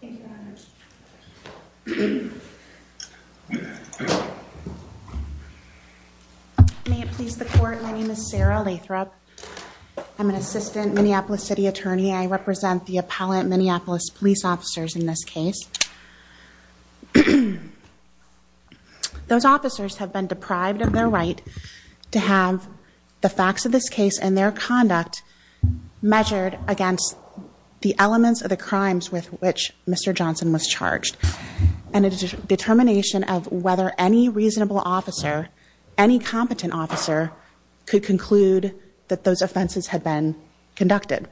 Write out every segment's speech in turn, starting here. May it please the court, my name is Sarah Lathrop. I'm an assistant Minneapolis City Attorney. I represent the appellant Minneapolis police officers in this case. Those officers have been deprived of their right to have the facts of this case and their conduct measured against the elements of the crimes with which Mr. Johnson was charged. And a determination of whether any reasonable officer, any competent officer could conclude that those offenses had been conducted.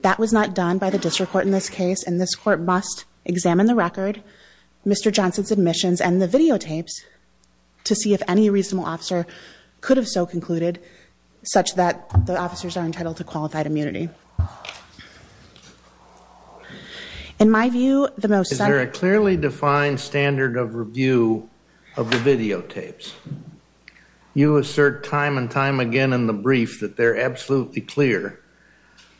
That was not done by the district court in this case and this court must examine the record, Mr. Johnson's admissions and the videotapes to see if any reasonable officer could have so concluded such that the officers are entitled to qualified immunity. Is there a clearly defined standard of review of the videotapes? You assert time and time again in the brief that they're absolutely clear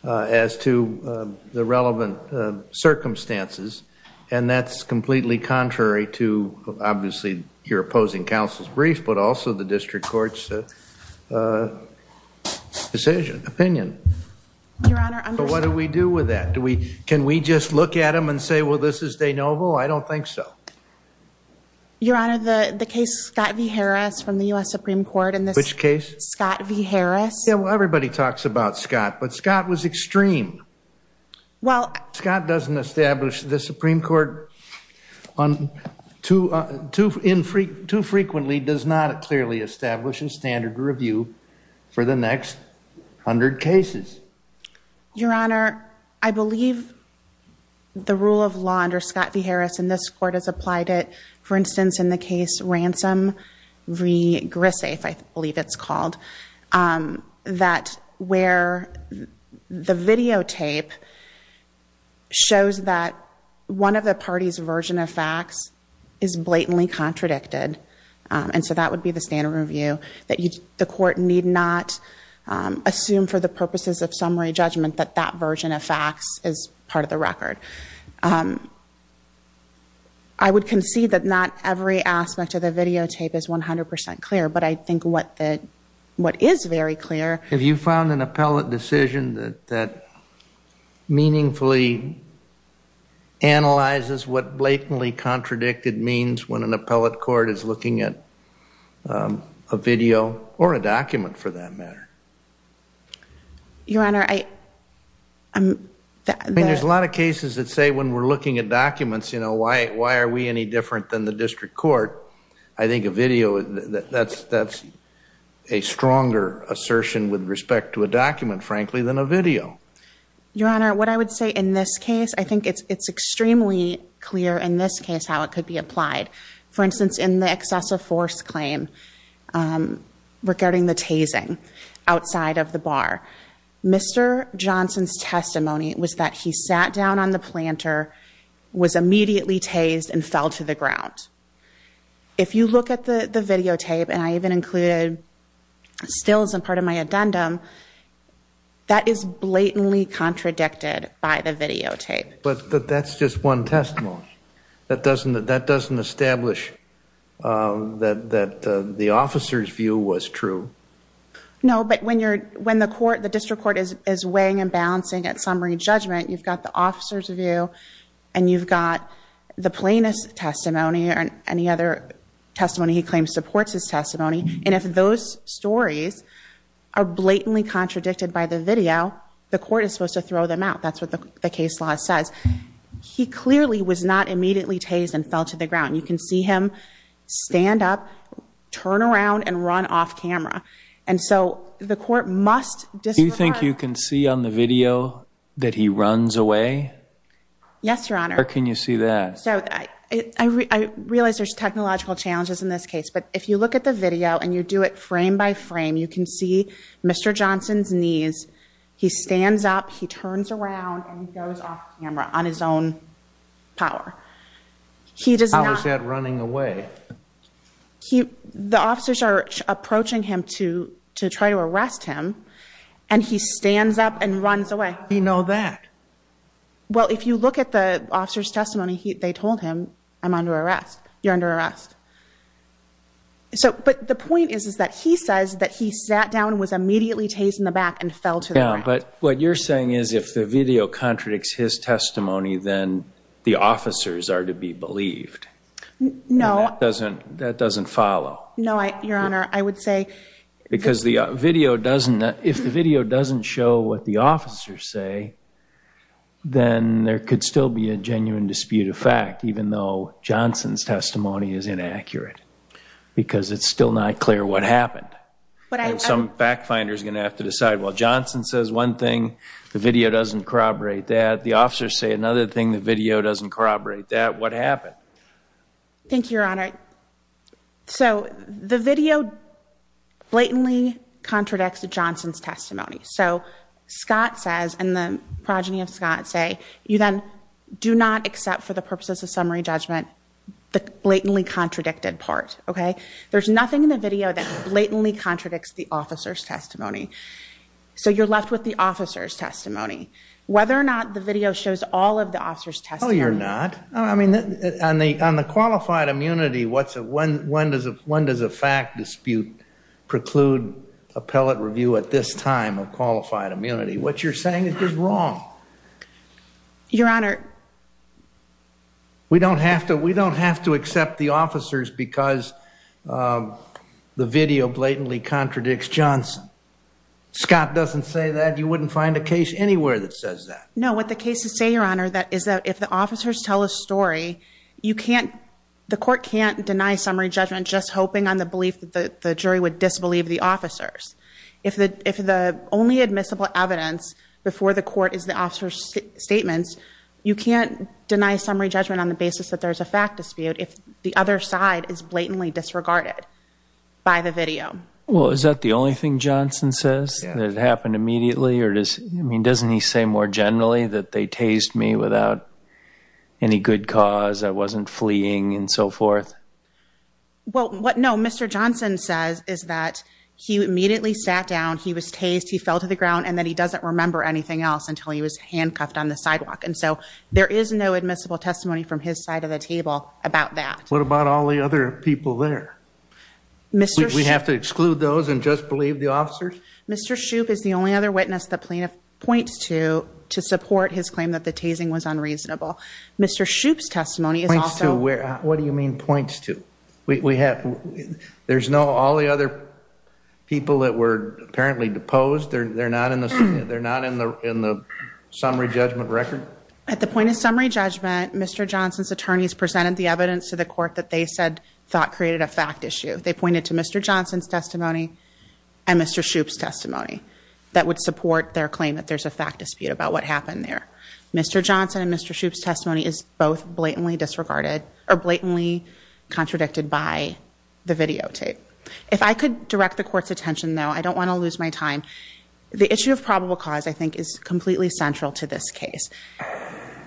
as to the relevant circumstances. And that's completely contrary to obviously your opposing counsel's brief, but also the district court's decision, opinion. What do we do with that? Do we, can we just look at them and say, well, this is de novo? I don't think so. Your Honor, the case Scott v. Harris from the U.S. Supreme Court. Which case? Scott v. Harris. Yeah, well, everybody talks about Scott, but Scott was extreme. Well. Scott doesn't establish the Supreme Court too frequently, does not clearly establish a standard review for the next hundred cases. Your Honor, I believe the rule of law under Scott v. Harris and this court has applied it. For instance, in the case Ransom v. Grisafe, I believe it's called, that where the videotape shows that one of the party's version of facts is blatantly contradicted. And so that would be the standard review that the court need not assume for the purposes of summary judgment that that version of facts is part of the record. I would concede that not every aspect of the videotape is 100% clear, but I think what is very clear. Have you found an appellate decision that meaningfully analyzes what blatantly contradicted means when an appellate court is looking at a video or a document for that matter? Your Honor, I. I mean, there's a lot of cases that say when we're looking at documents, you know, why are we any different than the district court? I think a video, that's a stronger assertion with respect to a document, frankly, than a video. Your Honor, what I would say in this case, I think it's extremely clear in this case how it could be applied. For instance, in the excessive force claim regarding the tasing outside of the bar. Mr. Johnson's testimony was that he sat down on the planter, was immediately tased, and fell to the ground. If you look at the videotape, and I even included stills as part of my addendum, that is blatantly contradicted by the videotape. But that's just one testimony. That doesn't establish that the officer's view was true. No, but when the district court is weighing and balancing at summary judgment, you've got the officer's view, and you've got the plaintiff's testimony, or any other testimony he claims supports his testimony, and if those stories are blatantly contradicted by the video, the court is supposed to throw them out. That's what the case law says. He clearly was not immediately tased and fell to the ground. You can see him stand up, turn around, and run off camera. And so the court must disregard... Do you think you can see on the video that he runs away? Yes, Your Honor. Where can you see that? I realize there's technological challenges in this case, but if you look at the video and you do it frame by frame, you can see Mr. Johnson's knees. He stands up, he turns around, and he goes off camera on his own power. How is that running away? The officers are approaching him to try to arrest him, and he stands up and runs away. How do you know that? Well, if you look at the officer's testimony, they told him, I'm under arrest. You're under arrest. But the point is that he says that he sat down, was immediately tased in the back, and fell to the ground. Yeah, but what you're saying is if the video contradicts his testimony, then the officers are to be believed. No. That doesn't follow. No, Your Honor, I would say... Because the video doesn't... If the video doesn't show what the officers say, then there could still be a genuine dispute of fact, even though Johnson's testimony is inaccurate because it's still not clear what happened. Some fact finders are going to have to decide, well, Johnson says one thing, the video doesn't corroborate that. The officers say another thing, the video doesn't corroborate that. What happened? Thank you, Your Honor. So, the video blatantly contradicts Johnson's testimony. So, Scott says, and the progeny of Scott say, you then do not accept for the purposes of summary judgment the blatantly contradicted part, okay? There's nothing in the video that blatantly contradicts the officer's testimony. So, you're left with the officer's testimony. Whether or not the video shows all of the officer's testimony... No, you're not. I mean, on the qualified immunity, when does a fact dispute preclude appellate review at this time of qualified immunity? What you're saying is just wrong. Your Honor... We don't have to accept the officers because the video blatantly contradicts Johnson. Scott doesn't say that. You wouldn't find a case anywhere that says that. No, what the case is saying, Your Honor, is that if the officers tell a story, the court can't deny summary judgment just hoping on the belief that the jury would disbelieve the officers. If the only admissible evidence before the court is the officer's statements, you can't deny summary judgment on the basis that there's a fact dispute if the other side is blatantly disregarded by the video. Well, is that the only thing Johnson says? Yeah. That it happened immediately? I mean, doesn't he say more generally that they tased me without any good cause, I wasn't fleeing, and so forth? Well, what, no, Mr. Johnson says is that he immediately sat down, he was tased, he fell to the ground, and that he doesn't remember anything else until he was handcuffed on the sidewalk. And so there is no admissible testimony from his side of the table about that. What about all the other people there? Mr. Shoup... We have to exclude those and just believe the officers? Mr. Shoup is the only other witness the plaintiff points to to support his claim that the tasing was unreasonable. Mr. Shoup's testimony is also... What do you mean points to? We have, there's no, all the other people that were apparently deposed, they're not in the summary judgment record? At the point of summary judgment, Mr. Johnson's attorneys presented the evidence to the court that they said thought created a fact issue. They pointed to Mr. Johnson's testimony and Mr. Shoup's testimony that would support their claim that there's a fact dispute about what happened there. Mr. Johnson and Mr. Shoup's testimony is both blatantly disregarded, or blatantly contradicted by the videotape. If I could direct the court's attention, though, I don't want to lose my time. The issue of probable cause, I think, is completely central to this case.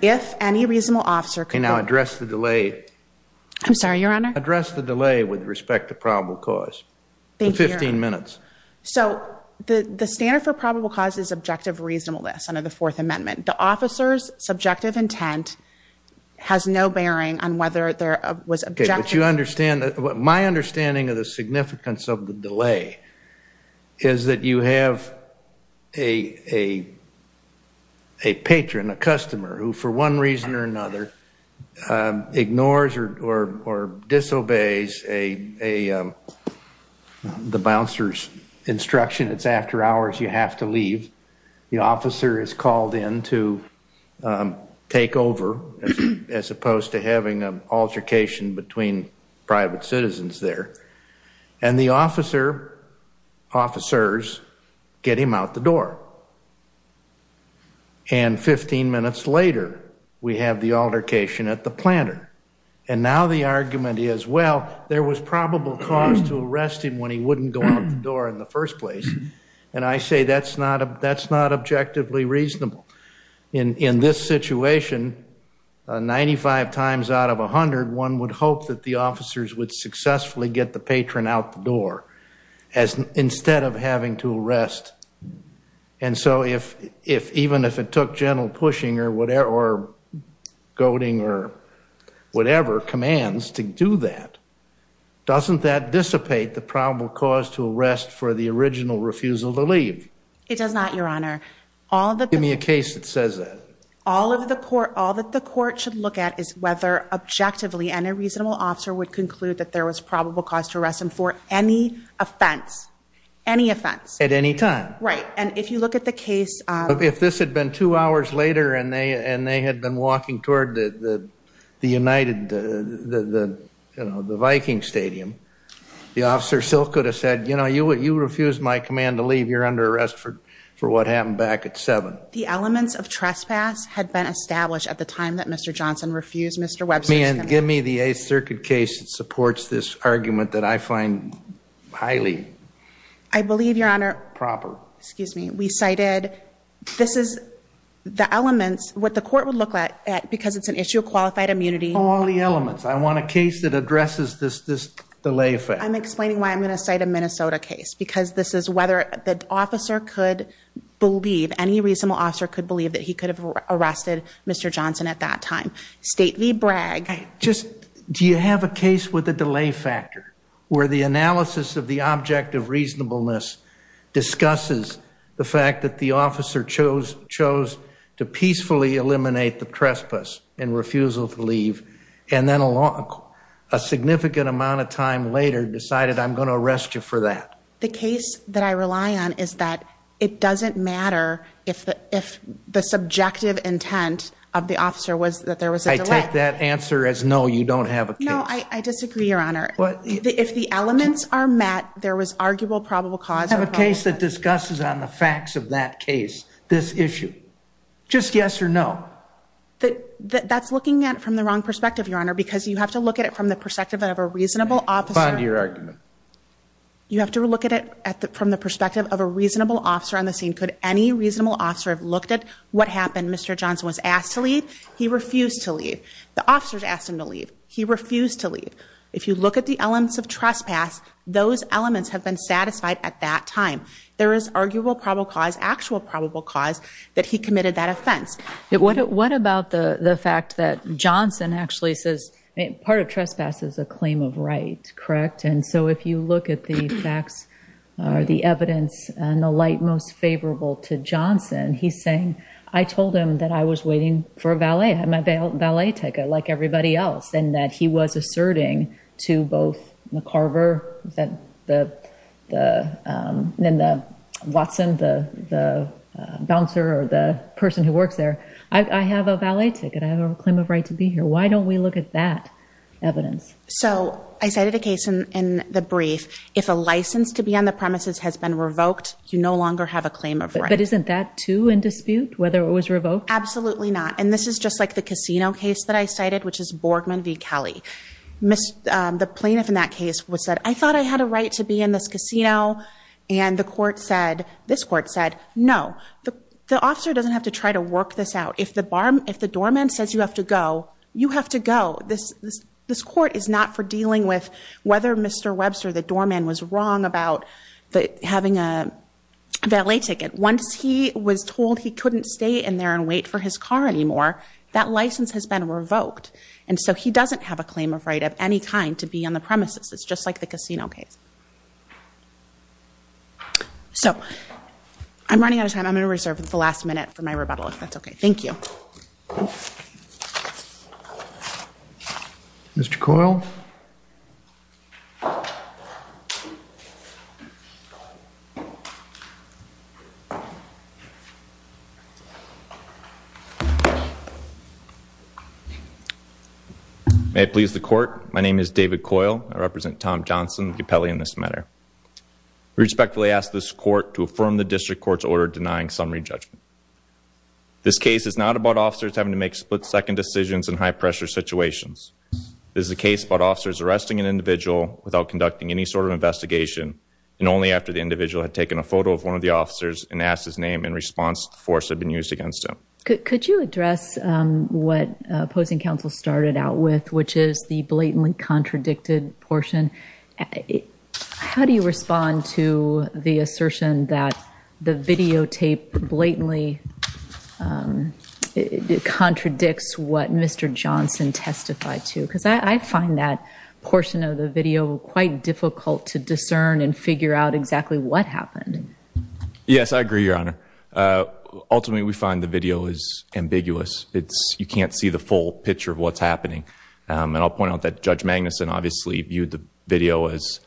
If any reasonable officer could... Can I address the delay? I'm sorry, Your Honor? Address the delay with respect to probable cause. Thank you, Your Honor. For 15 minutes. So, the standard for probable cause is objective reasonableness under the Fourth Amendment. The officer's subjective intent has no bearing on whether there was objective... Okay, but you understand... My understanding of the significance of the delay is that you have a patron, a customer, who, for one reason or another, ignores or disobeys the bouncer's instruction. It's after hours, you have to leave. The officer is called in to take over, as opposed to having an altercation between private citizens there. And the officers get him out the door. And 15 minutes later, we have the altercation at the planter. And now the argument is, well, there was probable cause to arrest him when he wouldn't go out the door in the first place. And I say that's not objectively reasonable. In this situation, 95 times out of 100, one would hope that the officers would successfully get the patron out the door instead of having to arrest. And so, even if it took gentle pushing or goading or whatever commands to do that, doesn't that dissipate the probable cause to arrest for the original refusal to leave? It does not, Your Honor. Give me a case that says that. All that the court should look at is whether, objectively, any reasonable officer would conclude that there was probable cause to arrest him for any offense. Any offense. At any time. Right. And if you look at the case... If this had been two hours later and they had been walking toward the United, the Viking Stadium, the officer still could have said, you know, you refused my command to leave. You're under arrest for what happened back at 7. The elements of trespass had been established at the time that Mr. Johnson refused Mr. Webster's command. Give me the Eighth Circuit case that supports this argument that I find highly... I believe, Your Honor... Proper. Oh, excuse me. We cited... This is... The elements... What the court would look at, because it's an issue of qualified immunity... All the elements. I want a case that addresses this delay effect. I'm explaining why I'm going to cite a Minnesota case. Because this is whether the officer could believe, any reasonable officer could believe that he could have arrested Mr. Johnson at that time. Stately brag. Do you have a case with a delay factor where the analysis of the object of reasonableness discusses the fact that the officer chose to peacefully eliminate the trespass and refusal to leave, and then a significant amount of time later decided, I'm going to arrest you for that? The case that I rely on is that it doesn't matter if the subjective intent of the officer was that there was a delay. You take that answer as no, you don't have a case. No, I disagree, Your Honor. If the elements are met, there was arguable probable cause. Have a case that discusses on the facts of that case, this issue. Just yes or no. That's looking at it from the wrong perspective, Your Honor, because you have to look at it from the perspective of a reasonable officer. Respond to your argument. You have to look at it from the perspective of a reasonable officer on the scene. Could any reasonable officer have looked at what happened? Mr. Johnson was asked to leave. He refused to leave. The officers asked him to leave. He refused to leave. If you look at the elements of trespass, those elements have been satisfied at that time. There is arguable probable cause, actual probable cause that he committed that offense. What about the fact that Johnson actually says part of trespass is a claim of right, correct? And so if you look at the facts or the evidence and the light most favorable to Johnson, he's saying, I told him that I was waiting for a valet, my valet ticket, like everybody else, and that he was asserting to both the Carver and the Watson, the bouncer or the person who works there, I have a valet ticket, I have a claim of right to be here. Why don't we look at that evidence? So I cited a case in the brief. If a license to be on the premises has been revoked, you no longer have a claim of right. But isn't that, too, in dispute, whether it was revoked? Absolutely not. And this is just like the casino case that I cited, which is Borgman v. Kelly. The plaintiff in that case said, I thought I had a right to be in this casino. And the court said, this court said, no, the officer doesn't have to try to work this out. If the doorman says you have to go, you have to go. This court is not for dealing with whether Mr. Webster, the doorman, was wrong about having a valet ticket. Once he was told he couldn't stay in there and wait for his car anymore, that license has been revoked. And so he doesn't have a claim of right of any kind to be on the premises. It's just like the casino case. So I'm running out of time. I'm going to reserve the last minute for my rebuttal, if that's okay. Thank you. Mr. Coyle. May it please the court. My name is David Coyle. I represent Tom Johnson of Capelli in this matter. We respectfully ask this court to affirm the district court's order denying summary judgment. This case is not about officers having to make split-second decisions in high-pressure situations. This is a case about officers arresting an individual without conducting any sort of investigation, and only after the individual had taken a photo of one of the officers and asked his name in response, the force had been used against him. Could you address what opposing counsel started out with, which is the blatantly contradicted portion? How do you respond to the assertion that the videotape blatantly contradicts what Mr. Johnson testified to? Because I find that portion of the video quite difficult to discern and figure out exactly what happened. Yes, I agree, Your Honor. Ultimately, we find the video is ambiguous. You can't see the full picture of what's happening. I'll point out that Judge Magnuson obviously viewed the video as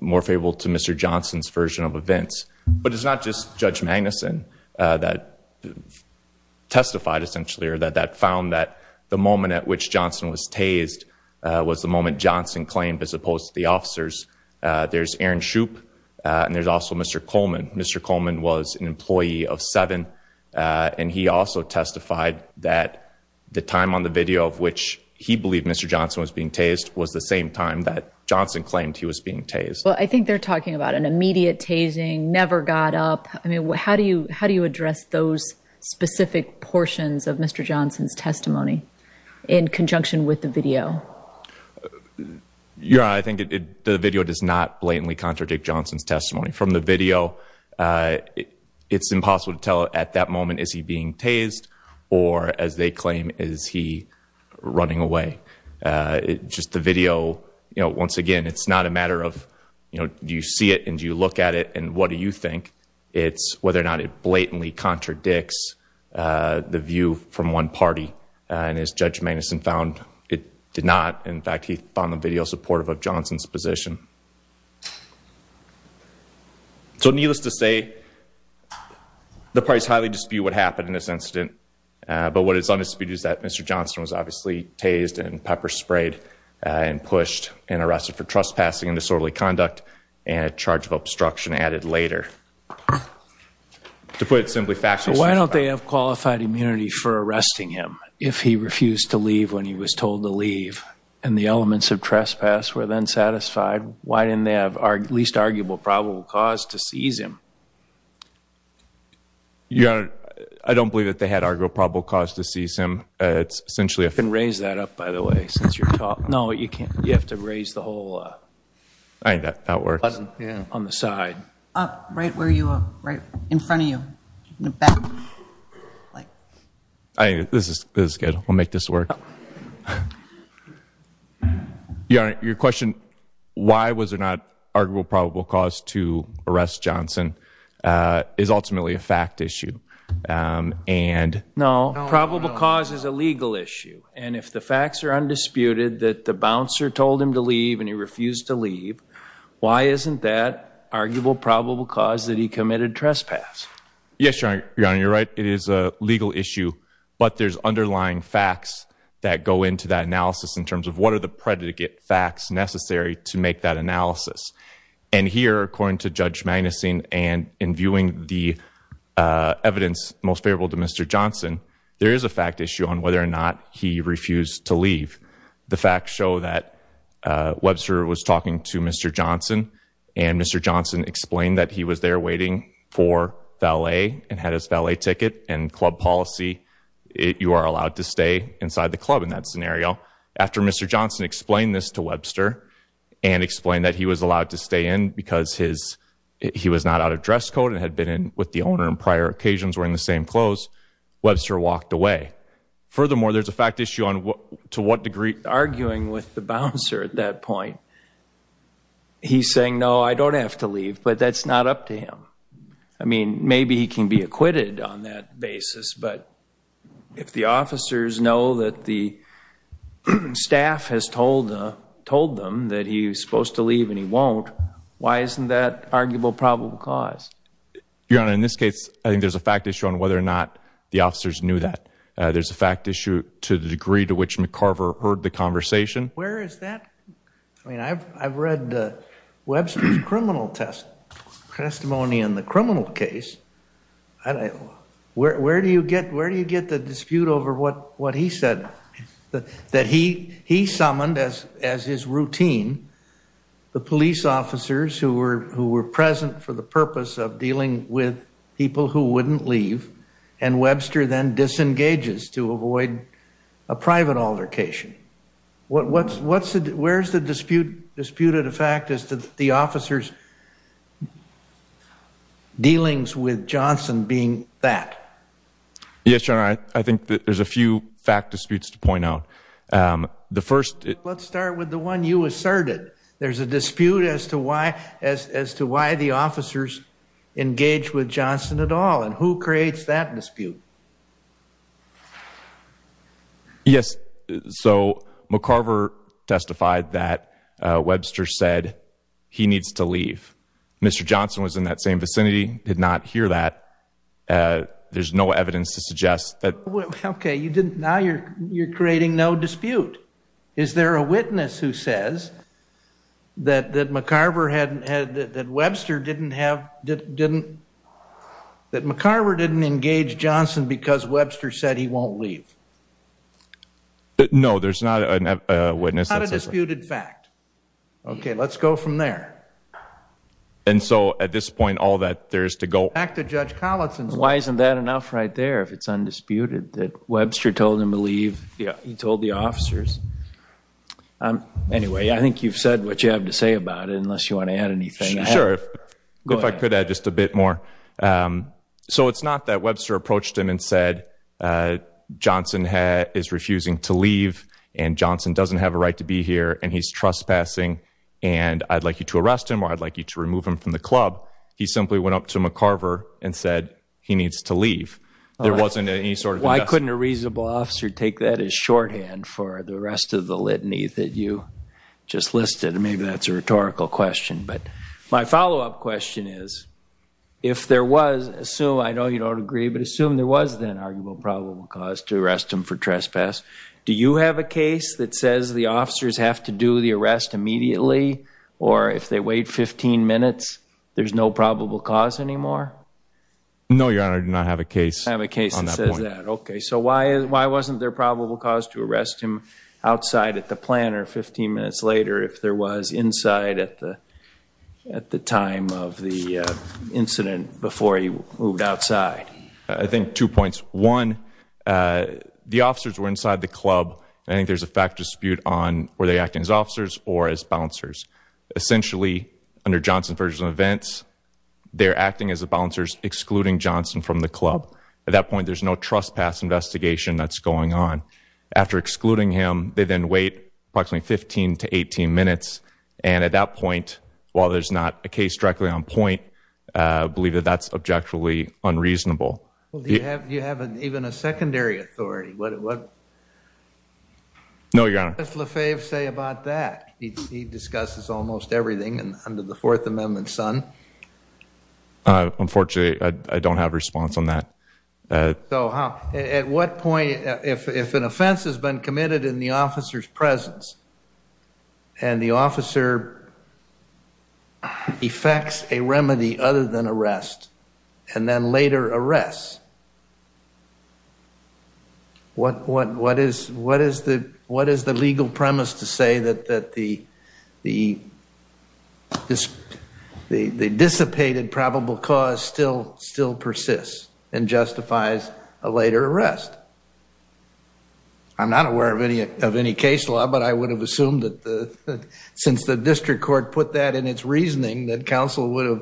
more favorable to Mr. Johnson's version of events. But it's not just Judge Magnuson that testified, essentially, or that found that the moment at which Johnson was tased was the moment Johnson claimed as opposed to the officers. There's Aaron Shoup, and there's also Mr. Coleman. Mr. Coleman was an employee of 7, and he also testified that the time on the video of which he believed Mr. Johnson was being tased was the same time that Johnson claimed he was being tased. Well, I think they're talking about an immediate tasing, never got up. I mean, how do you address those specific portions of Mr. Johnson's testimony in conjunction with the video? Your Honor, I think the video does not blatantly contradict Johnson's testimony. From the video, it's impossible to tell at that moment is he being tased or, as they claim, is he running away. Just the video, once again, it's not a matter of do you see it and do you look at it and what do you think. It's whether or not it blatantly contradicts the view from one party, and as Judge Magnuson found, it did not. In fact, he found the video supportive of Johnson's position. So needless to say, the parties highly dispute what happened in this incident, but what is undisputed is that Mr. Johnson was obviously tased and pepper-sprayed and pushed and arrested for trespassing and disorderly conduct and a charge of obstruction added later. To put it simply factually. Why don't they have qualified immunity for arresting him if he refused to leave when he was told to leave and the elements of trespass were then satisfied? Why didn't they have least arguable probable cause to seize him? Your Honor, I don't believe that they had arguable probable cause to seize him. You can raise that up, by the way, since you're talking. No, you have to raise the whole button on the side. Up, right where you are, right in front of you. This is good. I'll make this work. Your Honor, your question, why was there not arguable probable cause to arrest Johnson, is ultimately a fact issue. No, probable cause is a legal issue. And if the facts are undisputed that the bouncer told him to leave and he refused to leave, why isn't that arguable probable cause that he committed trespass? Yes, Your Honor, you're right. It is a legal issue. But there's underlying facts that go into that analysis in terms of what are the predicate facts necessary to make that analysis. And here, according to Judge Magnuson and in viewing the evidence most favorable to Mr. Johnson, there is a fact issue on whether or not he refused to leave. The facts show that Webster was talking to Mr. Johnson, and Mr. Johnson explained that he was there waiting for valet and had his valet ticket. And club policy, you are allowed to stay inside the club in that scenario. After Mr. Johnson explained this to Webster and explained that he was allowed to stay in because he was not out of dress code and had been in with the owner on prior occasions wearing the same clothes, Webster walked away. Furthermore, there's a fact issue on to what degree... Arguing with the bouncer at that point, he's saying, no, I don't have to leave, but that's not up to him. I mean, maybe he can be acquitted on that basis, but if the officers know that the staff has told them that he's supposed to leave and he won't, why isn't that arguable probable cause? Your Honor, in this case, I think there's a fact issue on whether or not the officers knew that. There's a fact issue to the degree to which McCarver heard the conversation. Where is that? I mean, I've read Webster's criminal testimony in the criminal case. Where do you get the dispute over what he said? That he summoned, as his routine, the police officers who were present for the purpose of dealing with people who wouldn't leave, and Webster then disengages to avoid a private altercation. Where's the dispute of the fact as to the officers' dealings with Johnson being that? Yes, Your Honor, I think that there's a few fact disputes to point out. Let's start with the one you asserted. There's a dispute as to why the officers engaged with Johnson at all, and who creates that dispute? Yes, so McCarver testified that Webster said he needs to leave. Mr. Johnson was in that same vicinity, did not hear that. There's no evidence to suggest that. Okay, now you're creating no dispute. Is there a witness who says that McCarver didn't engage Johnson because Webster said he won't leave? No, there's not a witness. It's not a disputed fact. Okay, let's go from there. And so at this point, all that there is to go back to Judge Collinson. Why isn't that enough right there, if it's undisputed, that Webster told him to leave? Yeah. He told the officers. Anyway, I think you've said what you have to say about it, unless you want to add anything. Sure. Go ahead. If I could add just a bit more. So it's not that Webster approached him and said Johnson is refusing to leave, and Johnson doesn't have a right to be here, and he's trespassing, and I'd like you to arrest him or I'd like you to remove him from the club. He simply went up to McCarver and said he needs to leave. There wasn't any sort of investment. Why couldn't a reasonable officer take that as shorthand for the rest of the litany that you just listed? Maybe that's a rhetorical question. But my follow-up question is, if there was, assume, I know you don't agree, but assume there was then an arguable probable cause to arrest him for trespass, do you have a case that says the officers have to do the arrest immediately or if they wait 15 minutes there's no probable cause anymore? No, Your Honor, I do not have a case on that point. You don't have a case that says that. Okay. So why wasn't there a probable cause to arrest him outside at the plant if there was inside at the time of the incident before he moved outside? I think two points. One, the officers were inside the club, and I think there's a fact dispute on were they acting as officers or as bouncers. Essentially, under Johnson's version of events, they're acting as the bouncers excluding Johnson from the club. At that point, there's no trespass investigation that's going on. After excluding him, they then wait approximately 15 to 18 minutes, and at that point, while there's not a case directly on point, I believe that that's objectively unreasonable. Do you have even a secondary authority? No, Your Honor. What does Lefebvre say about that? He discusses almost everything under the Fourth Amendment, son. Unfortunately, I don't have a response on that. At what point, if an offense has been committed in the officer's presence and the officer effects a remedy other than arrest and then later arrests, what is the legal premise to say that the dissipated probable cause still persists and justifies a later arrest? I'm not aware of any case law, but I would have assumed that since the district court put that in its reasoning, that counsel would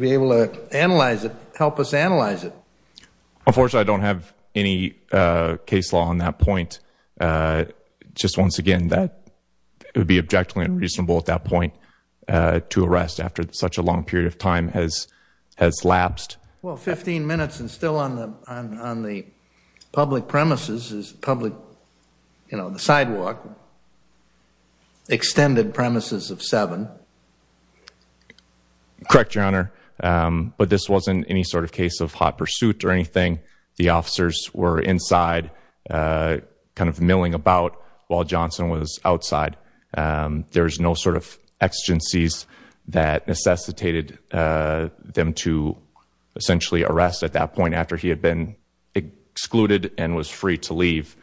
be able to analyze it, help us analyze it. Unfortunately, I don't have any case law on that point. Just once again, it would be objectively unreasonable at that point to arrest after such a long period of time has lapsed. Well, 15 minutes and still on the public premises, the sidewalk, extended premises of seven. Correct, Your Honor. But this wasn't any sort of case of hot pursuit or anything. The officers were inside kind of milling about while Johnson was outside. There was no sort of exigencies that necessitated them to essentially arrest at that point after he had been excluded and was free to leave.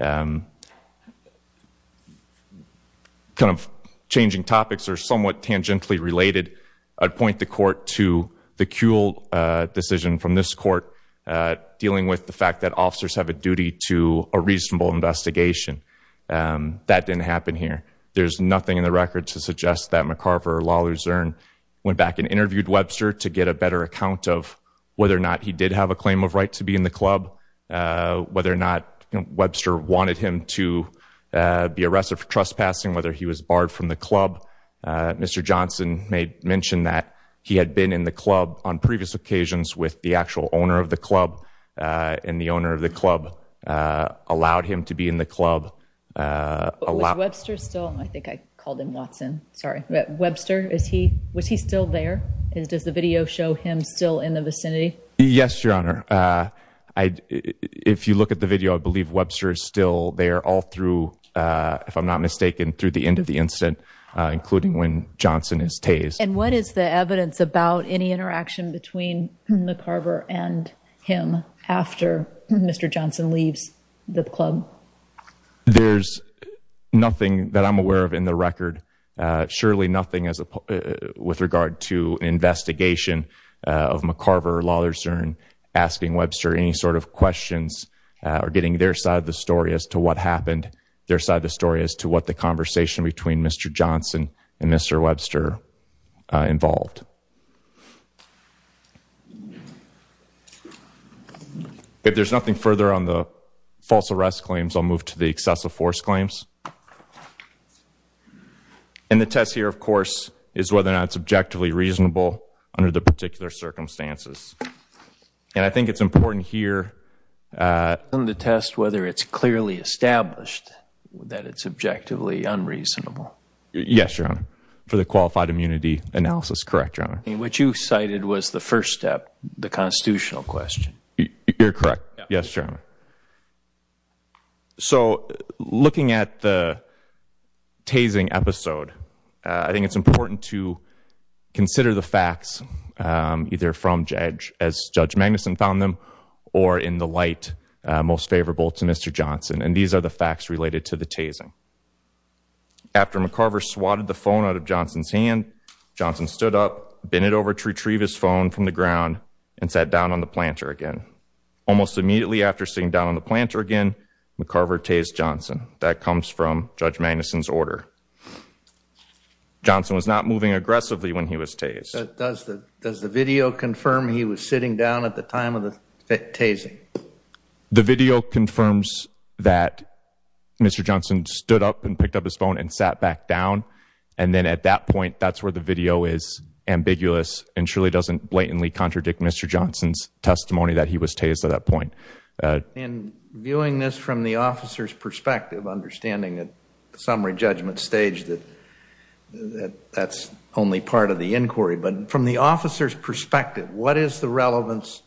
Kind of changing topics or somewhat tangentially related, I'd point the court to the Kuehl decision from this court dealing with the fact that officers have a duty to a reasonable investigation. That didn't happen here. There's nothing in the record to suggest that McCarver, Lawler, Zern went back and interviewed Webster to get a better account of whether or not he did have a claim of right to be in the club, whether or not Webster wanted him to be arrested for trespassing, whether he was barred from the club. Mr. Johnson mentioned that he had been in the club on previous occasions with the actual owner of the club and the owner of the club allowed him to be in the club. Was Webster still there? Does the video show him still in the vicinity? Yes, Your Honor. If you look at the video, I believe Webster is still there all through, if I'm not mistaken, through the end of the incident, including when Johnson is tased. And what is the evidence about any interaction between McCarver and him after Mr. Johnson leaves the club? There's nothing that I'm aware of in the record. Surely nothing with regard to investigation of McCarver, Lawler, Zern asking Webster any sort of questions or getting their side of the story as to what happened, their side of the story as to what the conversation between Mr. Johnson and Mr. Webster involved. If there's nothing further on the false arrest claims, I'll move to the excessive force claims. And the test here, of course, is whether or not it's objectively reasonable under the particular circumstances. And I think it's important here. The test, whether it's clearly established that it's objectively unreasonable. Yes, Your Honor. For the qualified immunity analysis, correct, Your Honor. What you cited was the first step, the constitutional question. You're correct. Yes, Your Honor. So looking at the tasing episode, I think it's important to consider the facts either from Judge, as Judge Magnuson found them, or in the light most favorable to Mr. Johnson. And these are the facts related to the tasing. After McCarver swatted the phone out of Johnson's hand, Johnson stood up, bent it over to retrieve his phone from the ground, and sat down on the planter again. Almost immediately after sitting down on the planter again, McCarver tased Johnson. That comes from Judge Magnuson's order. Johnson was not moving aggressively when he was tased. Does the video confirm he was sitting down at the time of the tasing? The video confirms that Mr. Johnson stood up and picked up his phone and sat back down. And then at that point, that's where the video is ambiguous and surely doesn't blatantly contradict Mr. Johnson's testimony that he was tased at that point. And viewing this from the officer's perspective, understanding at the summary judgment stage that that's only part of the inquiry, but from the officer's perspective, what is the relevance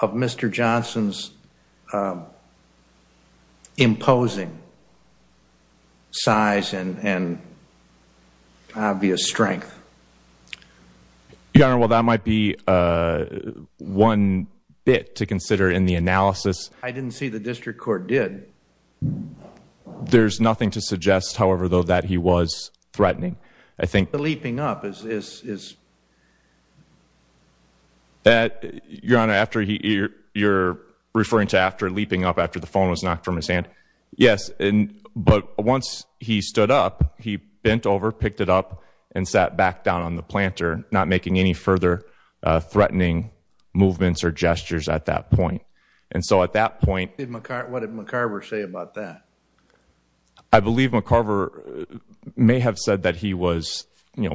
of Mr. Johnson's imposing size and obvious strength? Your Honor, well, that might be one bit to consider in the analysis. I didn't see the district court did. There's nothing to suggest, however, though, that he was threatening. The leaping up is... Your Honor, you're referring to leaping up after the phone was knocked from his hand. Yes, but once he stood up, he bent over, picked it up, and sat back down on the planter, not making any further threatening movements or gestures at that point. And so at that point... What did McCarver say about that? I believe McCarver may have said that he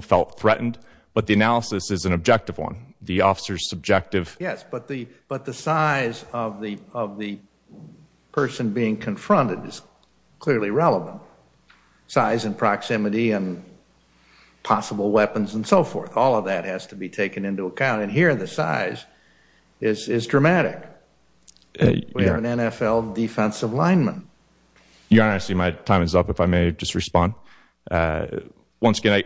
felt threatened, but the analysis is an objective one. The officer's subjective... Yes, but the size of the person being confronted is clearly relevant. Size and proximity and possible weapons and so forth, all of that has to be taken into account. And here, the size is dramatic. We have an NFL defensive lineman. Your Honor, I see my time is up, if I may just respond. Once again,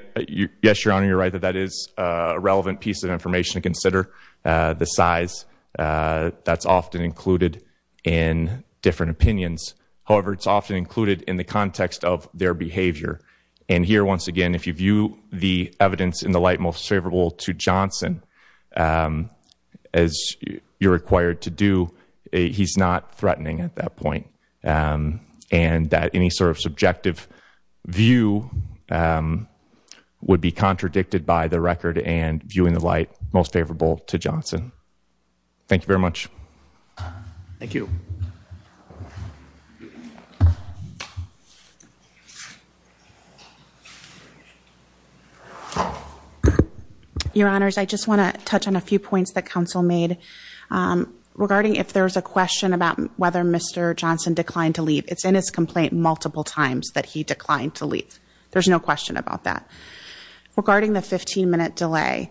yes, Your Honor, you're right that that is a relevant piece of information to consider. The size, that's often included in different opinions. However, it's often included in the context of their behavior. And here, once again, if you view the evidence in the light most favorable to Johnson, as you're required to do, he's not threatening at that point. And that any sort of subjective view would be contradicted by the record and viewing the light most favorable to Johnson. Thank you very much. Thank you. Thank you. Your Honors, I just want to touch on a few points that counsel made regarding if there's a question about whether Mr. Johnson declined to leave. It's in his complaint multiple times that he declined to leave. There's no question about that. Regarding the 15-minute delay,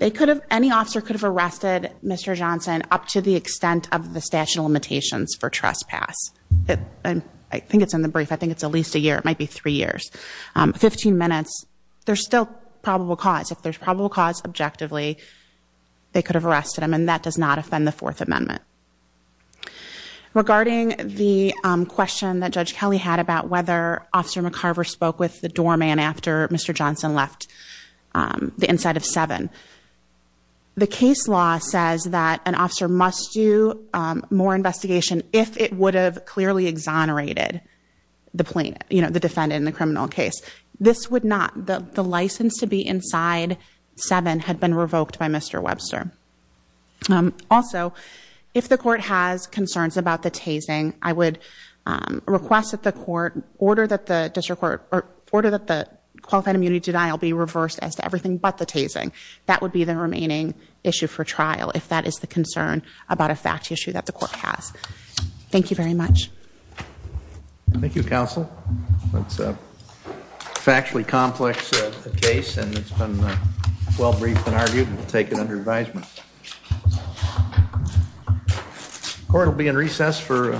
any officer could have arrested Mr. Johnson up to the extent of the statute of limitations for trespass. I think it's in the brief. I think it's at least a year. It might be three years. Fifteen minutes, there's still probable cause. If there's probable cause, objectively, they could have arrested him, and that does not offend the Fourth Amendment. Regarding the question that Judge Kelly had about whether Officer McCarver spoke with the doorman after Mr. Johnson left the inside of 7. The case law says that an officer must do more investigation if it would have clearly exonerated the defendant in the criminal case. This would not. The license to be inside 7 had been revoked by Mr. Webster. Also, if the court has concerns about the tasing, I would request that the court order that the district court or order that the qualified immunity denial be reversed as to everything but the tasing. That would be the remaining issue for trial, if that is the concern about a fact issue that the court has. Thank you very much. Thank you, Counsel. That's a factually complex case, and it's been well-briefed and argued and taken under advisement. The court will be in recess for about 10 minutes.